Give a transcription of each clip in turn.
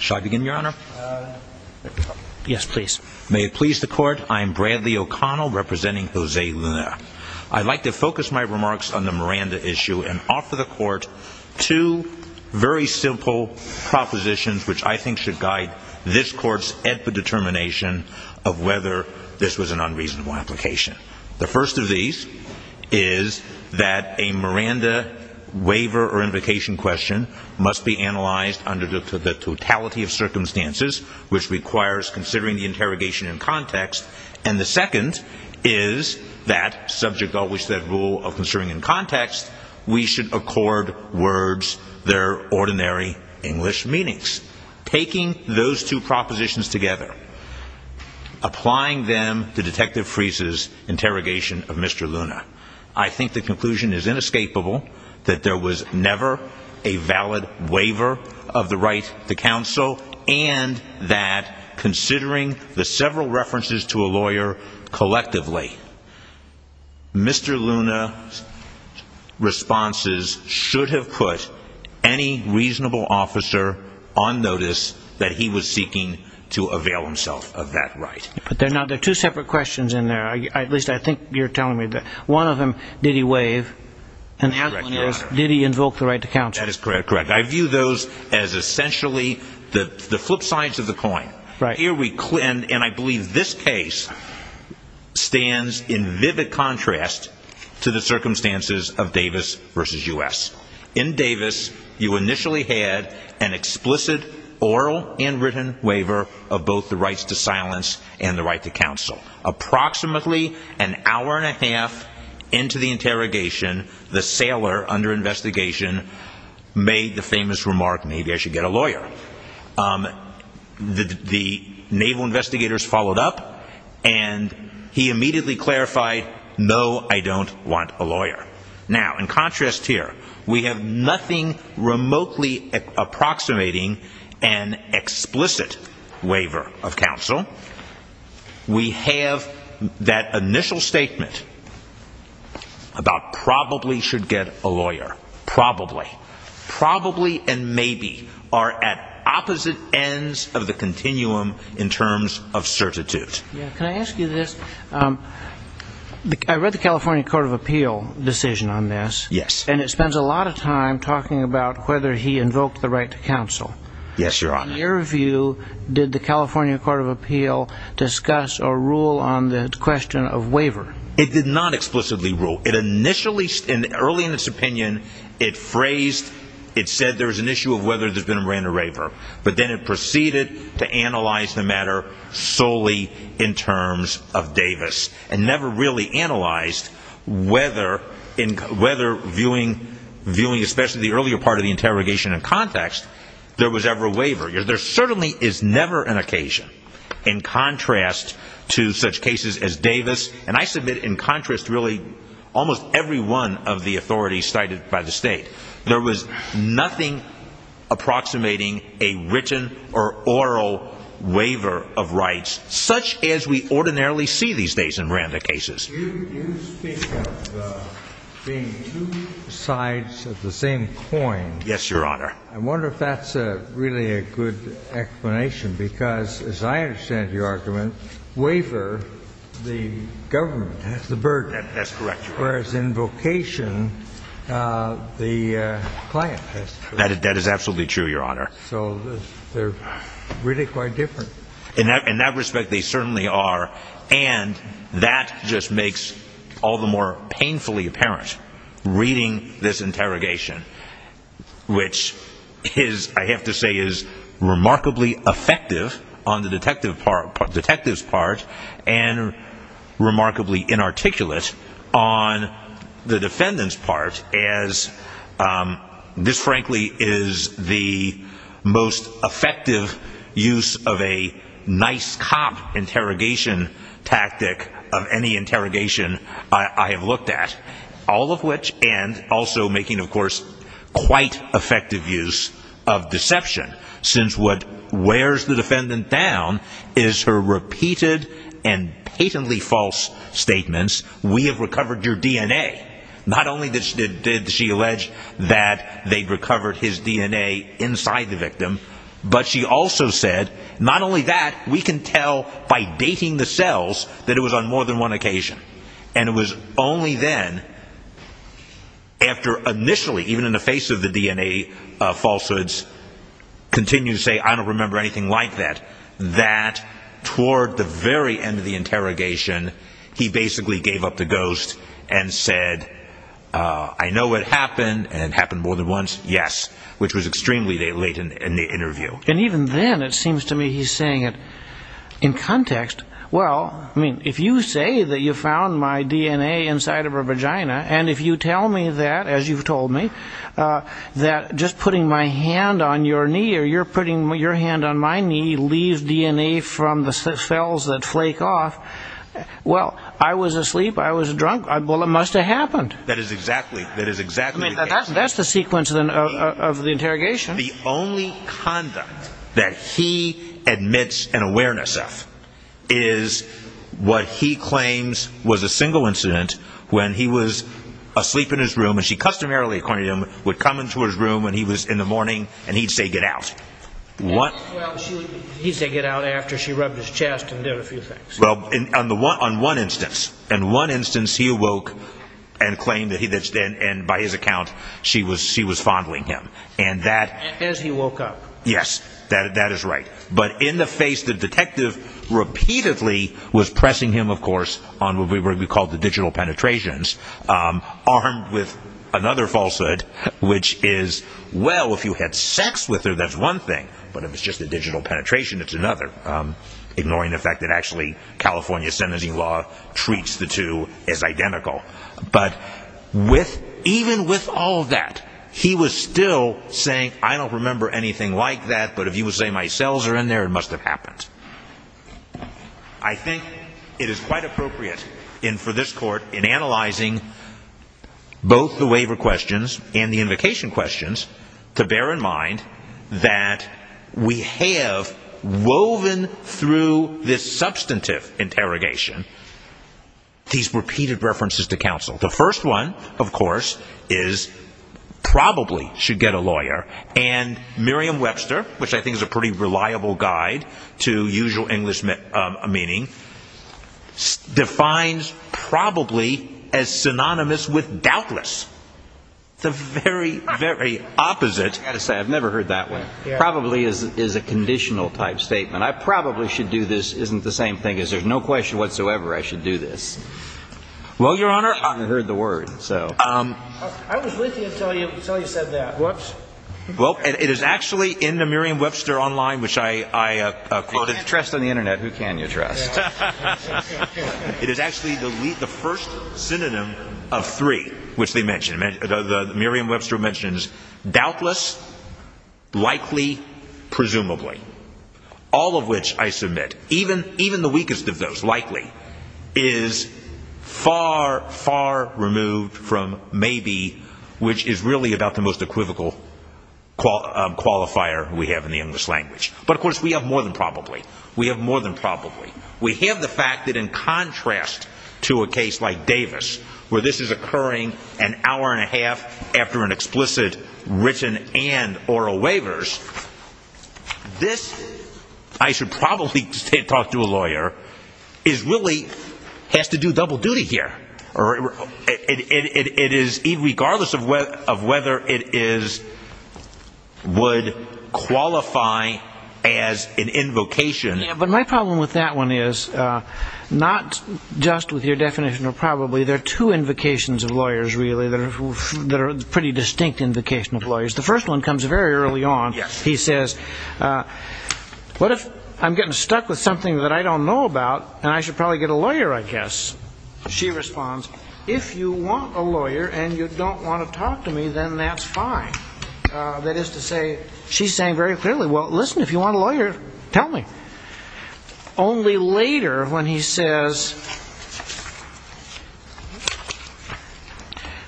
should I begin, your honor? Yes, please. May it please the court. I'm Bradley O'Connell representing Jose Luna. I'd like to focus my remarks on the Miranda issue and offer the court two very simple propositions which I think should guide this court's determination of whether this was an unreasonable application. The first of these is that a Miranda waiver or invocation question must be analyzed under the totality of circumstances, which requires considering the interrogation in context. And the second is that, subject always to that rule of considering in context, we should accord words their ordinary English meanings. Taking those two propositions together, applying them to Detective Friese's interrogation of Mr. Luna, I think the conclusion is inescapable that there was never a valid waiver of the right to counsel and that, considering the several references to a lawyer collectively, Mr. Luna's responses should have put any reasonable officer on notice that he was seeking to avail himself of that right. But there are two separate questions in there. At least I think you're telling me that. One of them, did he waive? And the other one is, did he invoke the right to counsel? That is correct. I view those as essentially the flip sides of the coin. And I believe this case stands in vivid contrast to the circumstances of Davis v. U.S. In Davis, you initially had an explicit oral and written waiver of both the rights to silence and the right to counsel. Approximately an hour and a half into the interrogation, the sailor under investigation made the famous remark, maybe I should get a lawyer. The naval investigators followed up, and he immediately clarified, no, I don't want a lawyer. Now, in contrast here, we have nothing remotely approximating an explicit waiver of counsel. We have that initial statement about probably should get a lawyer. Probably. Probably and maybe are at opposite ends of the continuum in terms of certitude. Can I ask you this? I read the California Court of Appeal decision on this. Yes. And it spends a lot of time talking about whether he invoked the right to counsel. Yes, Your Honor. In your view, did the California Court of Appeal discuss or rule on the question of waiver? It did not explicitly rule. It initially, early in its opinion, it phrased, it said there's an issue of whether there's been a Miranda Wraver. But then it proceeded to analyze the matter solely in terms of Davis and never really analyzed whether viewing especially the earlier part of the interrogation in context, there was ever a waiver. There certainly is never an occasion in contrast to such cases as Davis. And I submit in contrast really almost every one of the authorities cited by the state. There was nothing approximating a written or oral waiver of rights such as we ordinarily see these days in Miranda cases. You speak of being two sides of the same coin. Yes, Your Honor. I wonder if that's really a good explanation because as I understand your argument, waiver, the government has the burden. That's correct. Whereas in vocation, the client has the burden. That is absolutely true, Your Honor. So they're really quite different. In that respect, they certainly are. And that just makes all the more painfully apparent. Reading this interrogation, which is, I have to say, is remarkably effective on the detective's part and remarkably inarticulate on the defendant's part as this, frankly, is the most effective use of a nice cop interrogation tactic of any interrogation I have looked at, all of which and also making, of course, quite effective use of deception, since what wears the defendant down is her repeated and patently false statements, we have recovered your DNA. Not only did she allege that they'd recovered his DNA inside the victim, but she also said, not only that, we can tell by dating the cells that it was on more than one occasion. And it was only then, after initially, even in the face of the DNA falsehoods, continued to say, I don't remember anything like that, that toward the very end of the interrogation, he basically gave up the ghost and said, I know it happened and happened more than once. Yes. Which was extremely late in the interview. And even then, it seems to me he's saying it in context. Well, I mean, if you say that you found my DNA inside of her vagina, and if you tell me that, as you've told me, that just putting my hand on your knee or you're putting your hand on my knee, leaves DNA from the cells that flake off. Well, I was asleep. I was drunk. Well, it must have happened. That is exactly. That is exactly. That's the sequence of the interrogation. The only conduct that he admits an awareness of is what he claims was a single incident when he was asleep in his room and she customarily, according to him, would come into his room when he was in the morning and he'd say, get out. What? He'd say, get out after she rubbed his chest and did a few things. Well, on one instance. In one instance, he awoke and claimed that by his account, she was fondling him. As he woke up. Yes, that is right. But in the face, the detective repeatedly was pressing him, of course, on what we call the digital penetrations, armed with another falsehood, which is, well, if you had sex with her, that's one thing. But if it's just a digital penetration, it's another, ignoring the fact that actually California sentencing law treats the two as identical. But with even with all that, he was still saying, I don't remember anything like that. But if you would say my cells are in there, it must have happened. I think it is quite appropriate in for this court in analyzing both the waiver questions and the invocation questions to bear in mind that we have woven through this substantive interrogation, these repeated references to counsel. The first one, of course, is probably should get a lawyer. And Miriam Webster, which I think is a pretty reliable guide to usual English meaning, defines probably as synonymous with doubtless. The very, very opposite. I've never heard that way. Probably is a conditional type statement. I probably should do this isn't the same thing as there's no question whatsoever I should do this. Well, Your Honor, I heard the word. So I was with you until you said that. Well, it is actually in the Miriam Webster online, which I quoted trust on the Internet. Who can you trust? It is actually the first synonym of three, which they mentioned. The Miriam Webster mentions doubtless, likely, presumably all of which I submit even even the weakest of those likely is far, far removed from maybe, which is really about the most equivocal qualifier we have in the English language. But of course, we have more than probably. We have more than probably. We have the fact that in contrast to a case like Davis, where this is occurring an hour and a half after an explicit written and oral waivers, this I should probably talk to a lawyer is really has to do double duty here. Or it is regardless of whether it is would qualify as an invocation. Yeah, but my problem with that one is not just with your definition of probably there are two invocations of lawyers really that are that are pretty distinct invocation of lawyers. The first one comes very early on. He says, what if I'm getting stuck with something that I don't know about and I should probably get a lawyer, I guess. She responds, if you want a lawyer and you don't want to talk to me, then that's fine. That is to say, she's saying very clearly, well, listen, if you want a lawyer, tell me only later when he says.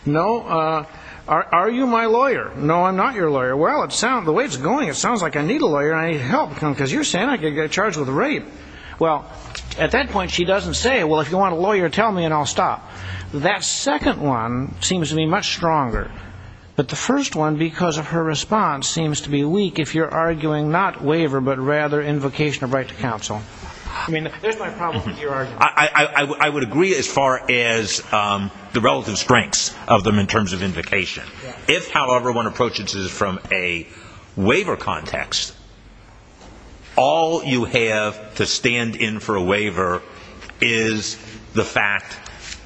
No, are you my lawyer? No, I'm not your lawyer. Well, it sounds the way it's going. It sounds like I need a lawyer. I help because you're saying I could get charged with rape. Well, at that point, she doesn't say, well, if you want a lawyer, tell me and I'll stop. That second one seems to be much stronger. But the first one, because of her response, seems to be weak if you're arguing not waiver, but rather invocation of right to counsel. I mean, there's my problem with your I would agree as far as the relative strengths of them in terms of invocation. If, however, one approaches this from a waiver context, all you have to stand in for a waiver is the fact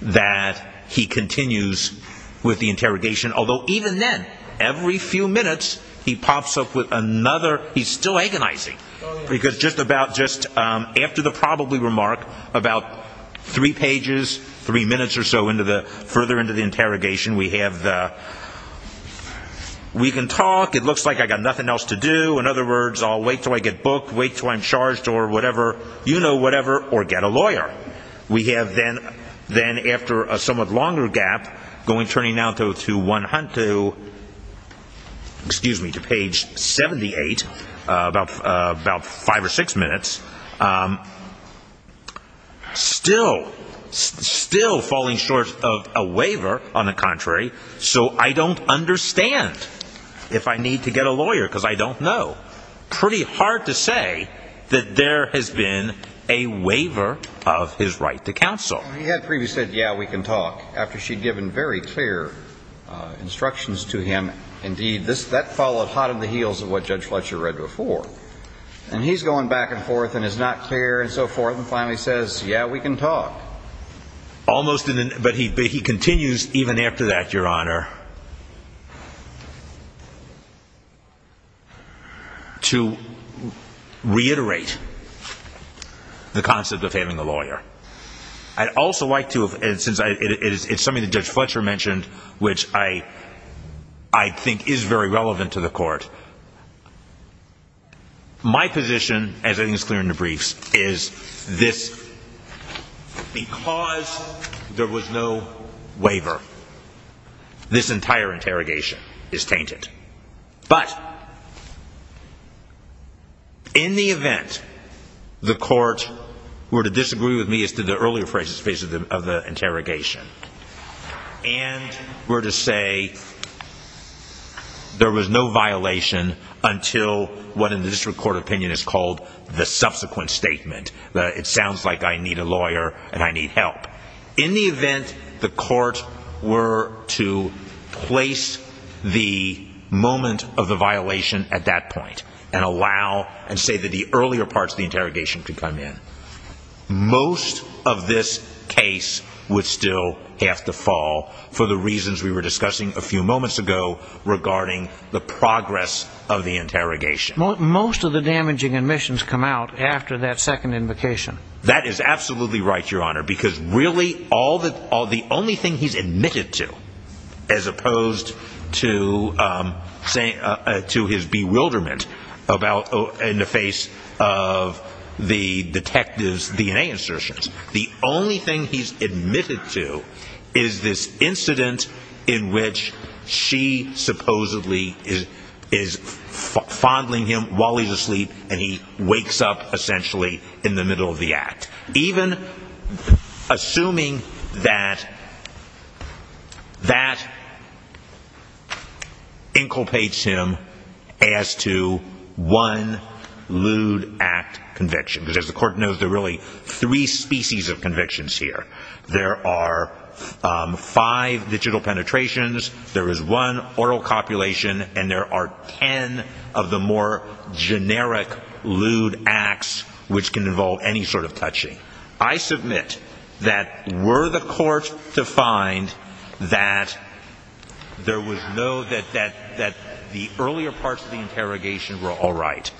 that he continues with the interrogation. Although even then, every few minutes he pops up with three pages, three minutes or so further into the interrogation. We can talk. It looks like I've got nothing else to do. In other words, I'll wait until I get booked, wait until I'm charged or whatever, you know whatever, or get a lawyer. We have then after a somewhat longer gap, going turning now to page 78, about five or six minutes, still falling short of a waiver on the contrary. So I don't understand if I need to get a lawyer because I don't know. Pretty hard to say that there has been a waiver of his right to counsel. He had previously said, yeah, we can talk, after she'd given very clear instructions to him. Indeed, that followed hot on the heels of what Judge Fletcher read before. And he's going back and forth and is not clear and so forth and finally says, yeah, we can talk. Almost, but he continues even after that, Your Honor, to reiterate the concept of having a lawyer. I'd also like to, and since it's something that Judge Fletcher mentioned, which I think is very relevant to the court, my position, as I think is clear in the briefs, is this, because there was no waiver, this entire interrogation is tainted. But in the event the court were to disagree with me as to the earlier phrases of the interrogation and were to say there was no violation until what in the district court opinion is called the subsequent statement, that it sounds like I need a lawyer and I need help, in the event the court were to place the moment of the violation at that point and allow and say that the earlier parts of the interrogation could come in, most of this case would still have to fall for the reasons we were discussing a few moments ago regarding the progress of the interrogation. Most of the damaging admissions come out after that second invocation. That is absolutely right, Your Honor, because really the only thing he's admitted to, as opposed to his bewilderment in the face of the detective's DNA insertions, the only thing he's admitted to is this incident in which she supposedly is fondling him while he's essentially in the middle of the act. Even assuming that that inculpates him as to one lewd act conviction, because as the court knows, there are really three species of convictions here. There are five digital penetrations, there is one oral copulation, and there are ten of the generic lewd acts which can involve any sort of touching. I submit that were the court to find that there was no, that the earlier parts of the interrogation were all right,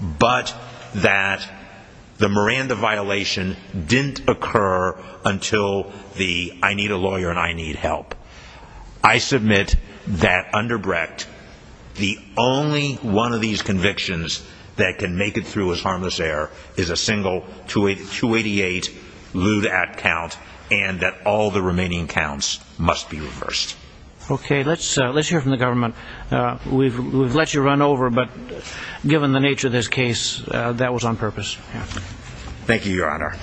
but that the Miranda violation didn't occur until the I need a lawyer and I need help. I submit that under Brecht, the only one of these convictions that can make it through as harmless error is a single 288 lewd act count and that all the remaining counts must be reversed. Okay, let's hear from the government. We've let you run over, but given the nature of this case, that was on purpose. Thank you, your honor.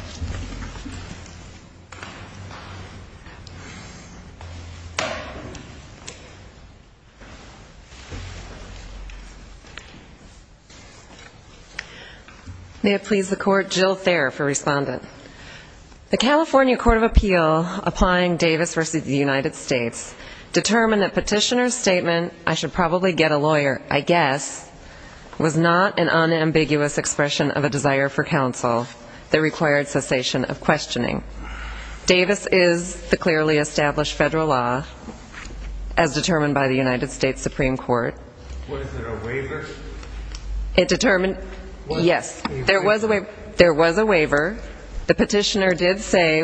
May it please the court, Jill Thayer for respondent. The California Court of Appeal applying Davis versus the United States determined that petitioner's statement, I should probably get a lawyer, I guess, was not an unambiguous expression of a desire for counsel, the required cessation of questioning. Davis is the clearly established federal law as determined by the United States Supreme Court. Was there a waiver? Yes, there was a waiver. The petitioner did say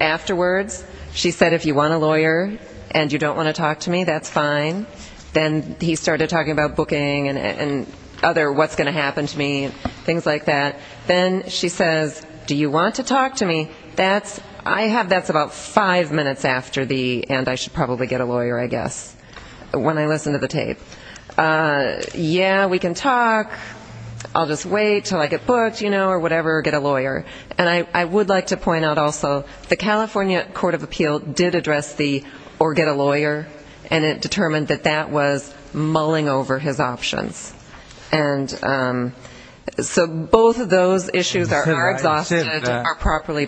afterwards, she said if you want a lawyer and you don't want to talk to me, that's fine. Then he started talking about booking and other what's going to happen to me, things like that. Then she says, do you want to talk to me? That's, I have, that's about five minutes after the and I should probably get a lawyer, I guess, when I listen to the tape. Yeah, we can talk. I'll just wait till I get booked, you know, or whatever, get a lawyer. And I would like to point out also the California Court of Appeal did address the or get a lawyer and it determined that that was mulling over his options. And so both of those issues are properly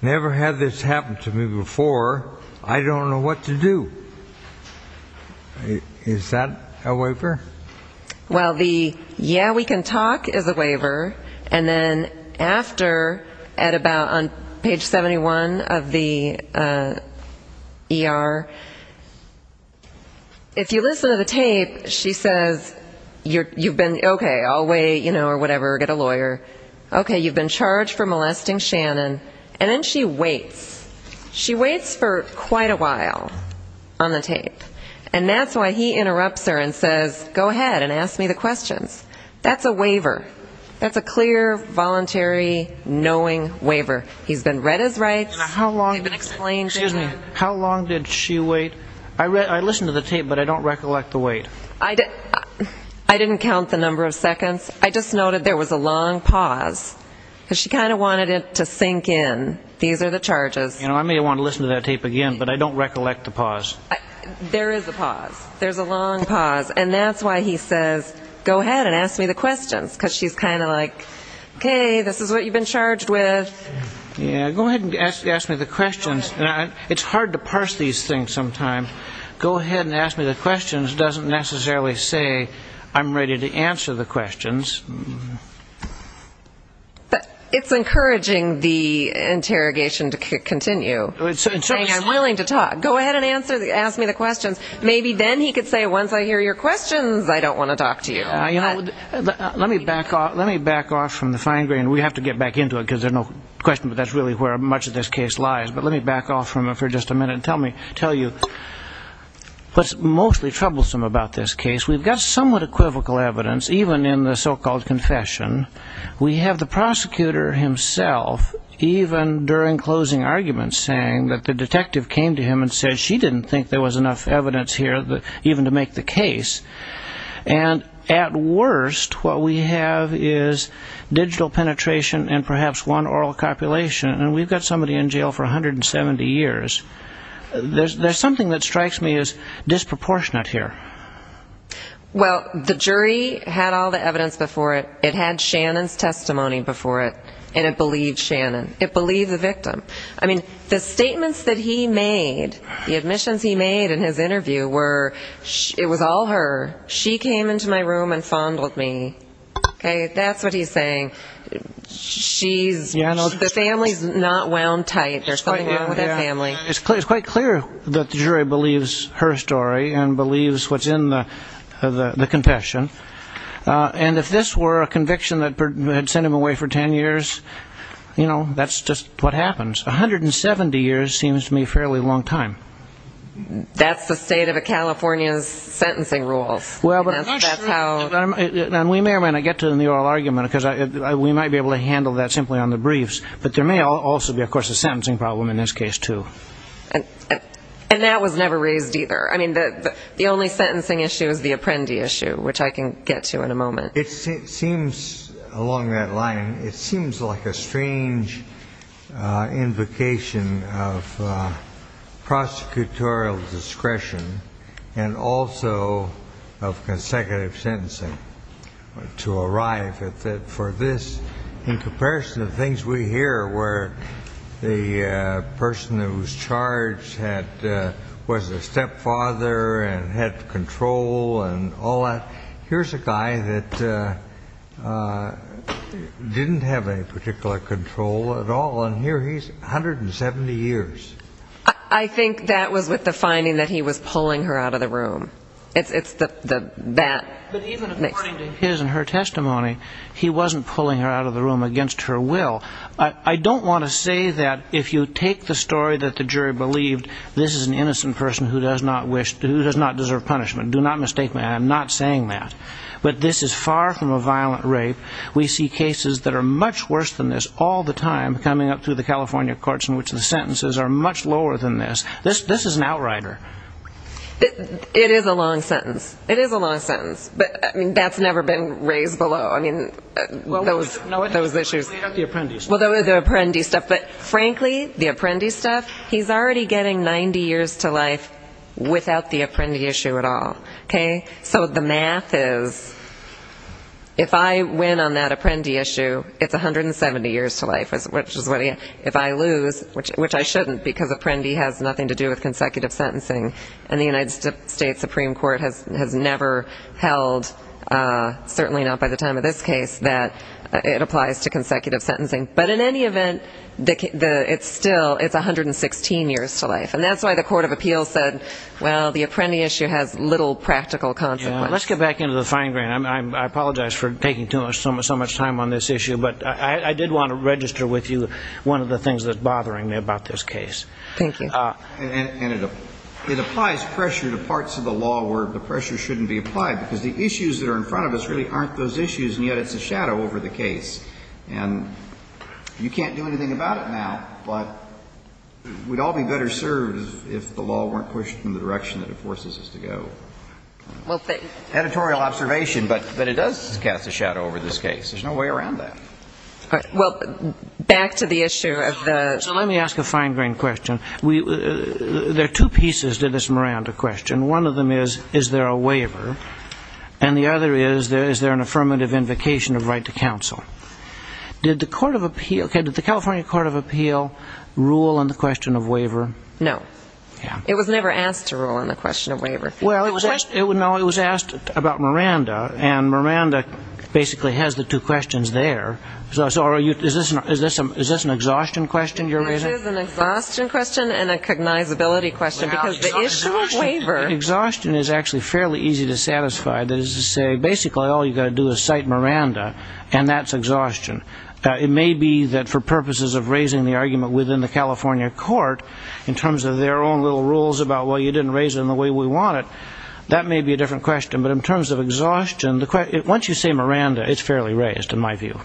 never had this happen to me before. I don't know what to do. Is that a waiver? Well, the yeah, we can talk is a waiver. And then after at about on page 71 of the ER, if you listen to the tape, she says, you're you've been okay, I'll wait, you know, or whatever, get a lawyer. Okay, you've been charged for molesting Shannon. And then she waits. She waits for quite a while on the tape. And that's why he interrupts her and says, go ahead and ask me the questions. That's a waiver. That's a clear, voluntary, knowing waiver. He's been read his rights. How long did she wait? I read I listened to the tape, but I don't recollect the wait. I did. I didn't count the number of seconds. I just noted there was a long pause, because she kind of wanted it to sink in. These are the charges. You know, I may want to listen to that tape again, but I don't recollect the pause. There is a pause. There's a long pause. And that's why he says, go ahead and ask me the questions. Because she's kind of like, okay, this is what you've been charged with. Yeah, go ahead and ask me the questions. It's hard to parse these things. Sometimes, go ahead and ask me the questions doesn't necessarily say, I'm ready to answer the questions. But it's encouraging the interrogation to continue. I'm willing to talk, go ahead and ask me the questions. Maybe then he could say, once I hear your questions, I don't want to talk to you. Let me back off from the fine grain. We have to get back into it, because there's no question, but that's really where much of this case lies. But let me back off from it for just a minute and tell you what's mostly troublesome about this case. We've got somewhat equivocal evidence, even in the so-called confession. We have the prosecutor himself, even during closing arguments, saying that the detective came to him and said she didn't think there was enough evidence here even to make the case. And at worst, what we have is digital penetration and perhaps one oral copulation. And we've got somebody in jail for 170 years. There's something that strikes me as disproportionate here. Well, the jury had all the evidence before it. It had Shannon's testimony. I mean, the statements that he made, the admissions he made in his interview, it was all her. She came into my room and fondled me. That's what he's saying. The family's not wound tight. There's something wrong with that family. It's quite clear that the jury believes her story and believes what's in the confession. And if this were a conviction that had sent him away for 10 years, you know, that's just what happens. 170 years seems to me a fairly long time. That's the state of a California's sentencing rules. And we may or may not get to the oral argument, because we might be able to handle that simply on the briefs. But there may also be, of course, a sentencing problem in this case, too. And that was never raised either. I mean, the only sentencing issue is the apprendee issue, which I can get to in a moment. It seems along that line, it seems like a strange invocation of prosecutorial discretion and also of consecutive sentencing to arrive at that for this, in comparison to the things we hear where the person who was charged was a stepfather and had control and all that. Here's a guy that didn't have any particular control at all, and here he's 170 years. I think that was with the finding that he was pulling her out of the room. It's the bat. But even according to his and her testimony, he wasn't pulling her out of the room against her will. I don't want to say that if you take the story that the jury believed, this is an innocent person who does not deserve punishment. Do not mistake me. I'm not saying that. But this is far from a violent rape. We see cases that are much worse than this all the time coming up through the California courts, in which the sentences are much lower than this. This is an outrider. It is a long sentence. It is a long sentence. But that's never been raised below. Well, those were the apprentice stuff. But frankly, the apprentice stuff, he's already getting 90 years to life without the apprentice issue at all. So the math is, if I win on that apprentice issue, it's 170 years to life. If I lose, which I shouldn't because apprentice has nothing to do with consecutive sentencing, and the United States Supreme Court has never held, certainly not by the time of this case, that it applies to consecutive sentencing. But in any event, it's still, it's 116 years to life. And that's why the Court of Appeals said, well, the apprentice issue has little practical consequence. Let's get back into the fine grain. I apologize for taking so much time on this issue. But I did want to register with you one of the things that's bothering me about this case. Thank you. It applies pressure to parts of the law where the pressure shouldn't be applied, because the issues that are in front of us really aren't those issues, and yet it's a shadow over the case. And you can't do anything about it now, but we'd all be better served if the law weren't pushed in the direction that it forces us to go. Editorial observation, but it does cast a shadow over this case. There's no way around that. Well, back to the issue of the- So let me ask a fine grain question. There are two pieces to this Miranda question. One of them is, is there a waiver? And the other is, is there an affirmative invocation of right to counsel? Did the California Court of Appeal rule on the question of waiver? No. It was never asked to rule on the question of waiver. Well, it was asked about Miranda, and Miranda basically has the two questions there. Is this an exhaustion question you're raising? This is an exhaustion question and a cognizability question, because the issue of waiver- Fairly easy to satisfy. Basically, all you've got to do is cite Miranda, and that's exhaustion. It may be that for purposes of raising the argument within the California court, in terms of their own little rules about, well, you didn't raise it in the way we want it, that may be a different question. But in terms of exhaustion, once you say Miranda, it's fairly raised, in my view.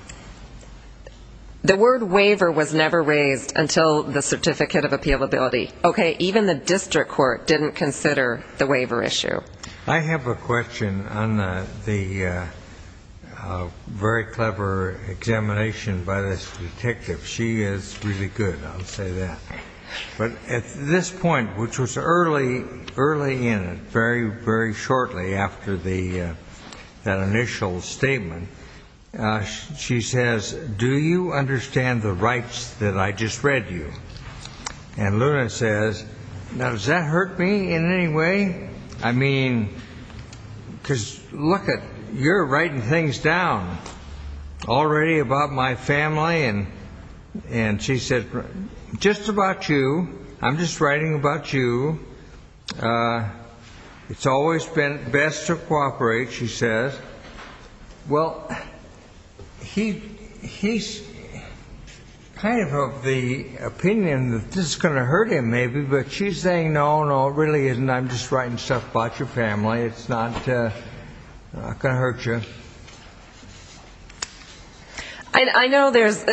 The word waiver was never raised until the Certificate of Appealability. Okay, the District Court didn't consider the waiver issue. I have a question on the very clever examination by this detective. She is really good, I'll say that. But at this point, which was early in it, very, very shortly after that initial statement, she says, do you understand the rights that I just read you? And Luna says, now does that hurt me in any way? I mean, because look it, you're writing things down already about my family. And she said, just about you, I'm just writing about you. It's always been best to cooperate, she says. Well, he's kind of of the opinion that this is going to hurt him maybe, but she's saying, no, no, it really isn't. I'm just writing stuff about your family. It's not going to hurt you. I know there's,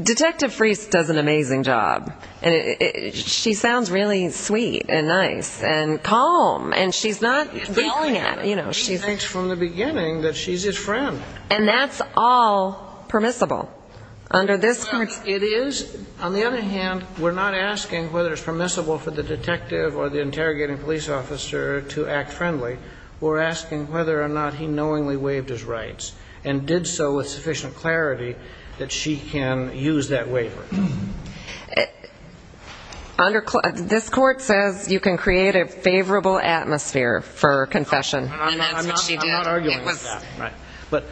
Detective Friest does an excellent job of being sweet and nice and calm, and she's not yelling at him. He thinks from the beginning that she's his friend. And that's all permissible. It is. On the other hand, we're not asking whether it's permissible for the detective or the interrogating police officer to act friendly. We're asking whether or not he knowingly waived his rights and did so with sufficient clarity that she can use that waiver. Under this court says you can create a favorable atmosphere for confession. But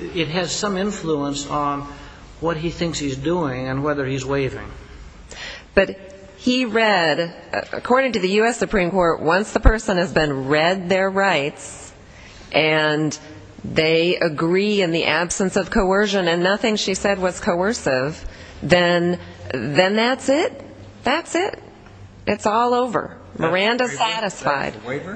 it has some influence on what he thinks he's doing and whether he's waiving. But he read, according to the U.S. Supreme Court, once the person has been read their rights and they agree in the absence of coercion and nothing she said was coercive, then that's it. That's it. It's all over. Miranda satisfied.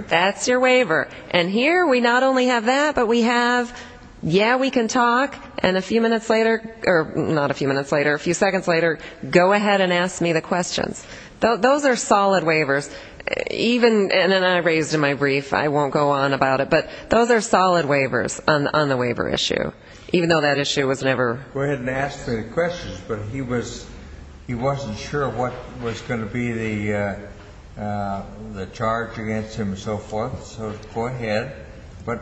That's your waiver. And here we not only have that, but we have, yeah, we can talk. And a few minutes later, or not a few minutes later, a few seconds later, go ahead and ask me the questions. Those are solid waivers. Even, and then I raised in my brief, I won't go on about it, but those are solid waivers on the waiver issue, even though that issue was never. Go ahead and ask me the questions. But he was, he wasn't sure what was going to be the charge against him and so forth. So go ahead. But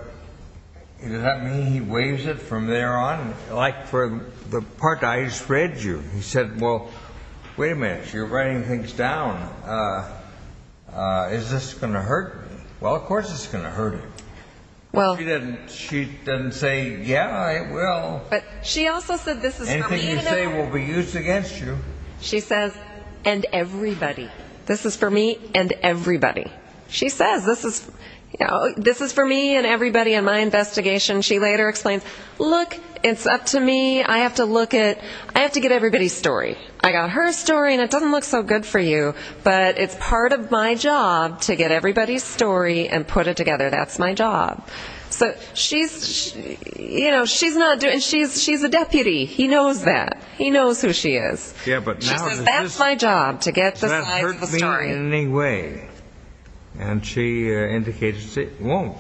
does that mean he waives it from there on? Like for the part I just read you, he said, well, wait a minute, you're writing things down. Is this going to hurt? Well, of course it's going to hurt. Well, she didn't, she didn't say, yeah, I will. But she also said, this is anything you say will be used against you. She says, and everybody, this is for me and everybody. She says, this is, you know, this is for me and everybody in my investigation. She later explains, look, it's up to me. I have to look at, I have to get everybody's story. I got her story and it doesn't look so good for you, but it's part of my job to get everybody's story and put it together. That's my job. So she's, you know, she's not doing, she's, she's a deputy. He knows that he knows who she is. Yeah. But now that's my job to get the size of the story in any way. And she indicates it won't.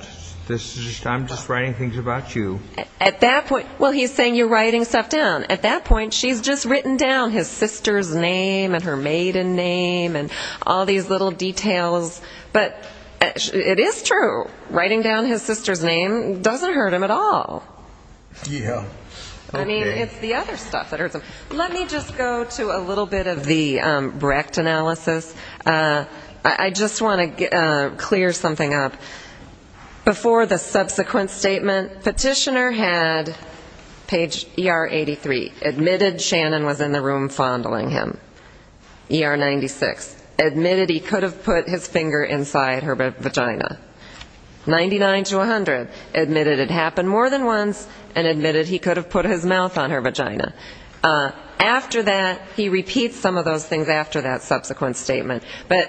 This is just, I'm just writing things about you at that point. Well, he's saying you're writing stuff down at that point. She's just written down his sister's name and her maiden name and all these little details. But it is true. Writing down his sister's name doesn't hurt him at all. I mean, it's the other stuff that hurts him. Let me just go to a little bit of the Brecht analysis. I just want to clear something up. Before the subsequent statement, petitioner had page ER 83, admitted Shannon was in the room fondling him. ER 96, admitted he could have put his finger inside her vagina. 99 to 100, admitted it happened more than once and admitted he could have put his mouth on her vagina. After that, he repeats some of those things after that subsequent statement, but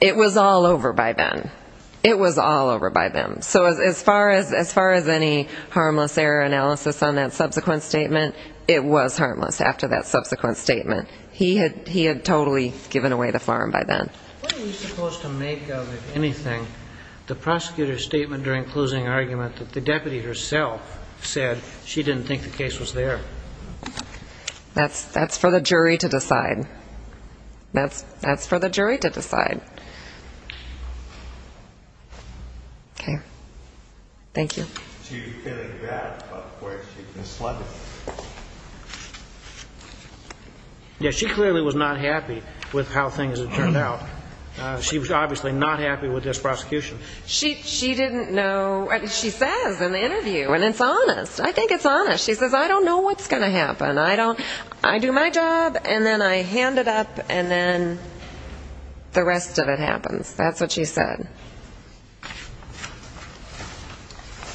it was all over by then. It was all over by then. So as far as any harmless error analysis on that subsequent statement, it was harmless after that subsequent statement. He had totally given away the farm by then. What are you supposed to make of, if anything, the prosecutor's statement during closing argument that the deputy herself said she didn't think the that's for the jury to decide? Okay. Thank you. Yeah, she clearly was not happy with how things turned out. She was obviously not happy with this prosecution. She didn't know. She says in the interview, and it's honest. I think it's honest. She says, I don't know what's going to happen. I do my job, and then I hand it up, and then the rest of it happens. That's what she said.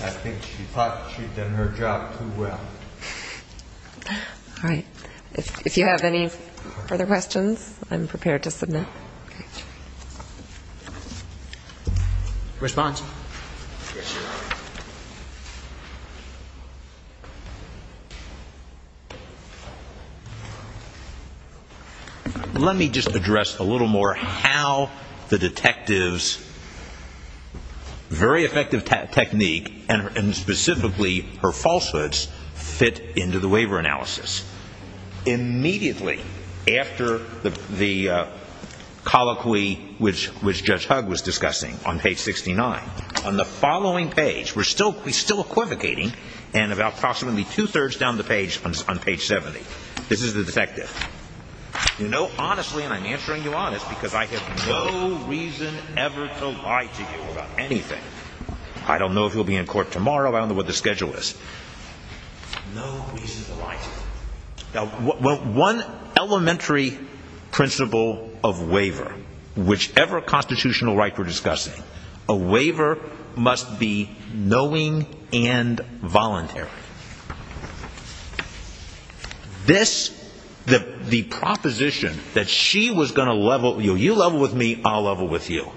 I think she thought she'd done her job too well. All right. If you have any further questions, I'm prepared to submit. All right. Let me just address a little more how the detective's very effective technique and specifically her falsehoods fit into the waiver analysis. Immediately after the colloquy, which Judge Hugg was discussing on page 69, on the following page, we're still equivocating, and about approximately two-thirds down the page on page 70, this is the detective. You know honestly, and I'm answering you honest, because I have no reason ever to lie to you about anything. I don't know if you'll be in court tomorrow. I don't know what the schedule is. No reason to lie to you. One elementary principle of waiver, whichever constitutional right we're discussing, a waiver must be knowing and voluntary. This, the proposition that she was going to level, you level with me, I'll level with you.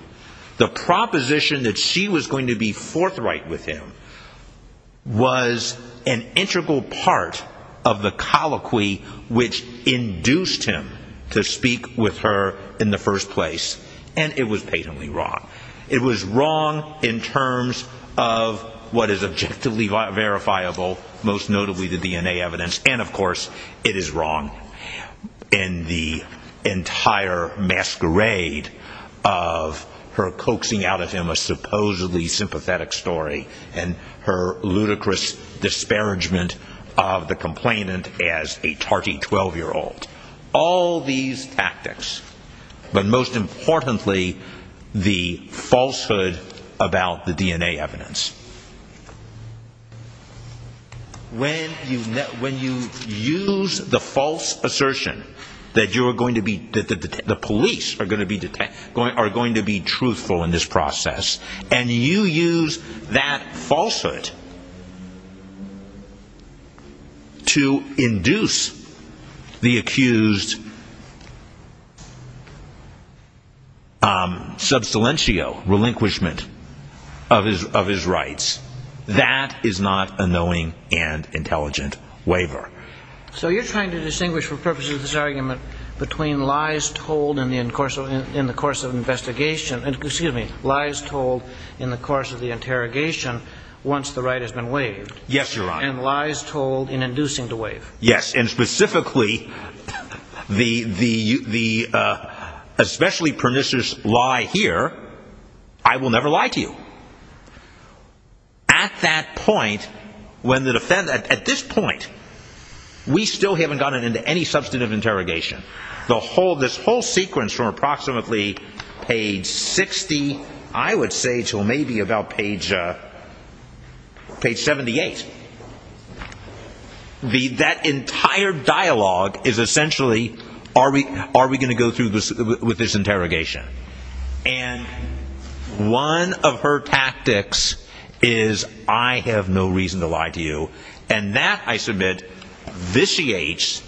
The proposition that she was going to be forthright with him was an integral part of the colloquy which induced him to speak with her in the first place, and it was patently wrong. It was wrong in terms of what is objectively verifiable, most notably the DNA evidence, and of course, it is wrong in the entire masquerade of her coaxing out of him a supposedly sympathetic story and her ludicrous disparagement of the complainant as a tarty 12-year-old. All these tactics, but most importantly, the falsehood about the DNA evidence. When you use the false assertion that the police are going to be truthful in this process and you that is not a knowing and intelligent waiver. So you're trying to distinguish for purposes of this argument between lies told in the course of investigation, excuse me, lies told in the course of the interrogation once the right has been waived. Yes, Your Honor. And lies told in inducing to waive. Yes, and specifically the especially lie here, I will never lie to you. At that point, when the defendant, at this point, we still haven't gotten into any substantive interrogation. The whole, this whole sequence from approximately page 60, I would say to maybe about page 78. The, that entire dialogue is essentially, are we, are we going to go through this, with this interrogation? And one of her tactics is, I have no reason to lie to you. And that, I submit, vitiates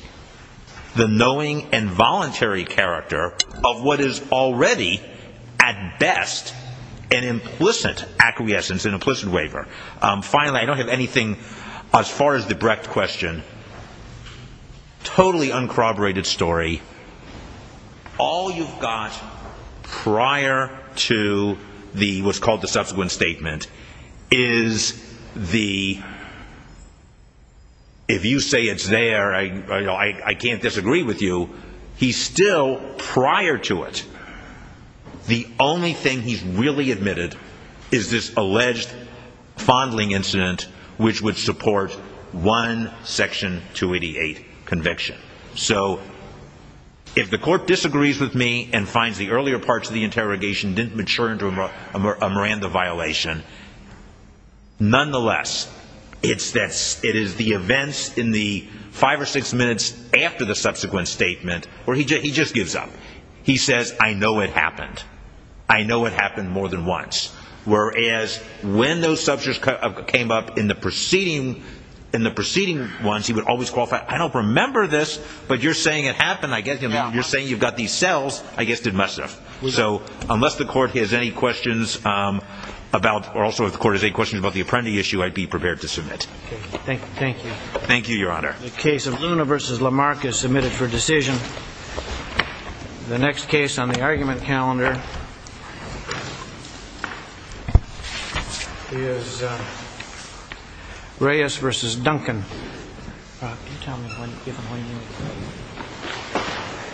the knowing and voluntary character of what is already at best an implicit acquiescence, an implicit waiver. Finally, I don't have anything, as far as the direct question, totally uncorroborated story. All you've got prior to the, what's called the subsequent statement, is the, if you say it's there, I can't disagree with you. He's still, prior to it, the only thing he's really admitted is this alleged fondling incident, which would support one section 288 conviction. So, if the court disagrees with me and finds the earlier parts of the interrogation didn't mature into a Miranda violation, nonetheless, it's that, it is the events in the five or six minutes after the subsequent statement, he just gives up. He says, I know it happened. I know it happened more than once. Whereas, when those subjects came up in the preceding, in the preceding ones, he would always qualify, I don't remember this, but you're saying it happened, I guess, you're saying you've got these cells, I guess it must have. So, unless the court has any questions about, or also, if the court has any questions about the Apprendi issue, I'd be prepared to submit. Thank you. Thank you, Your Honor. The case of Luna versus Lamarck is submitted for decision. The next case on the argument calendar is Reyes versus Duncan.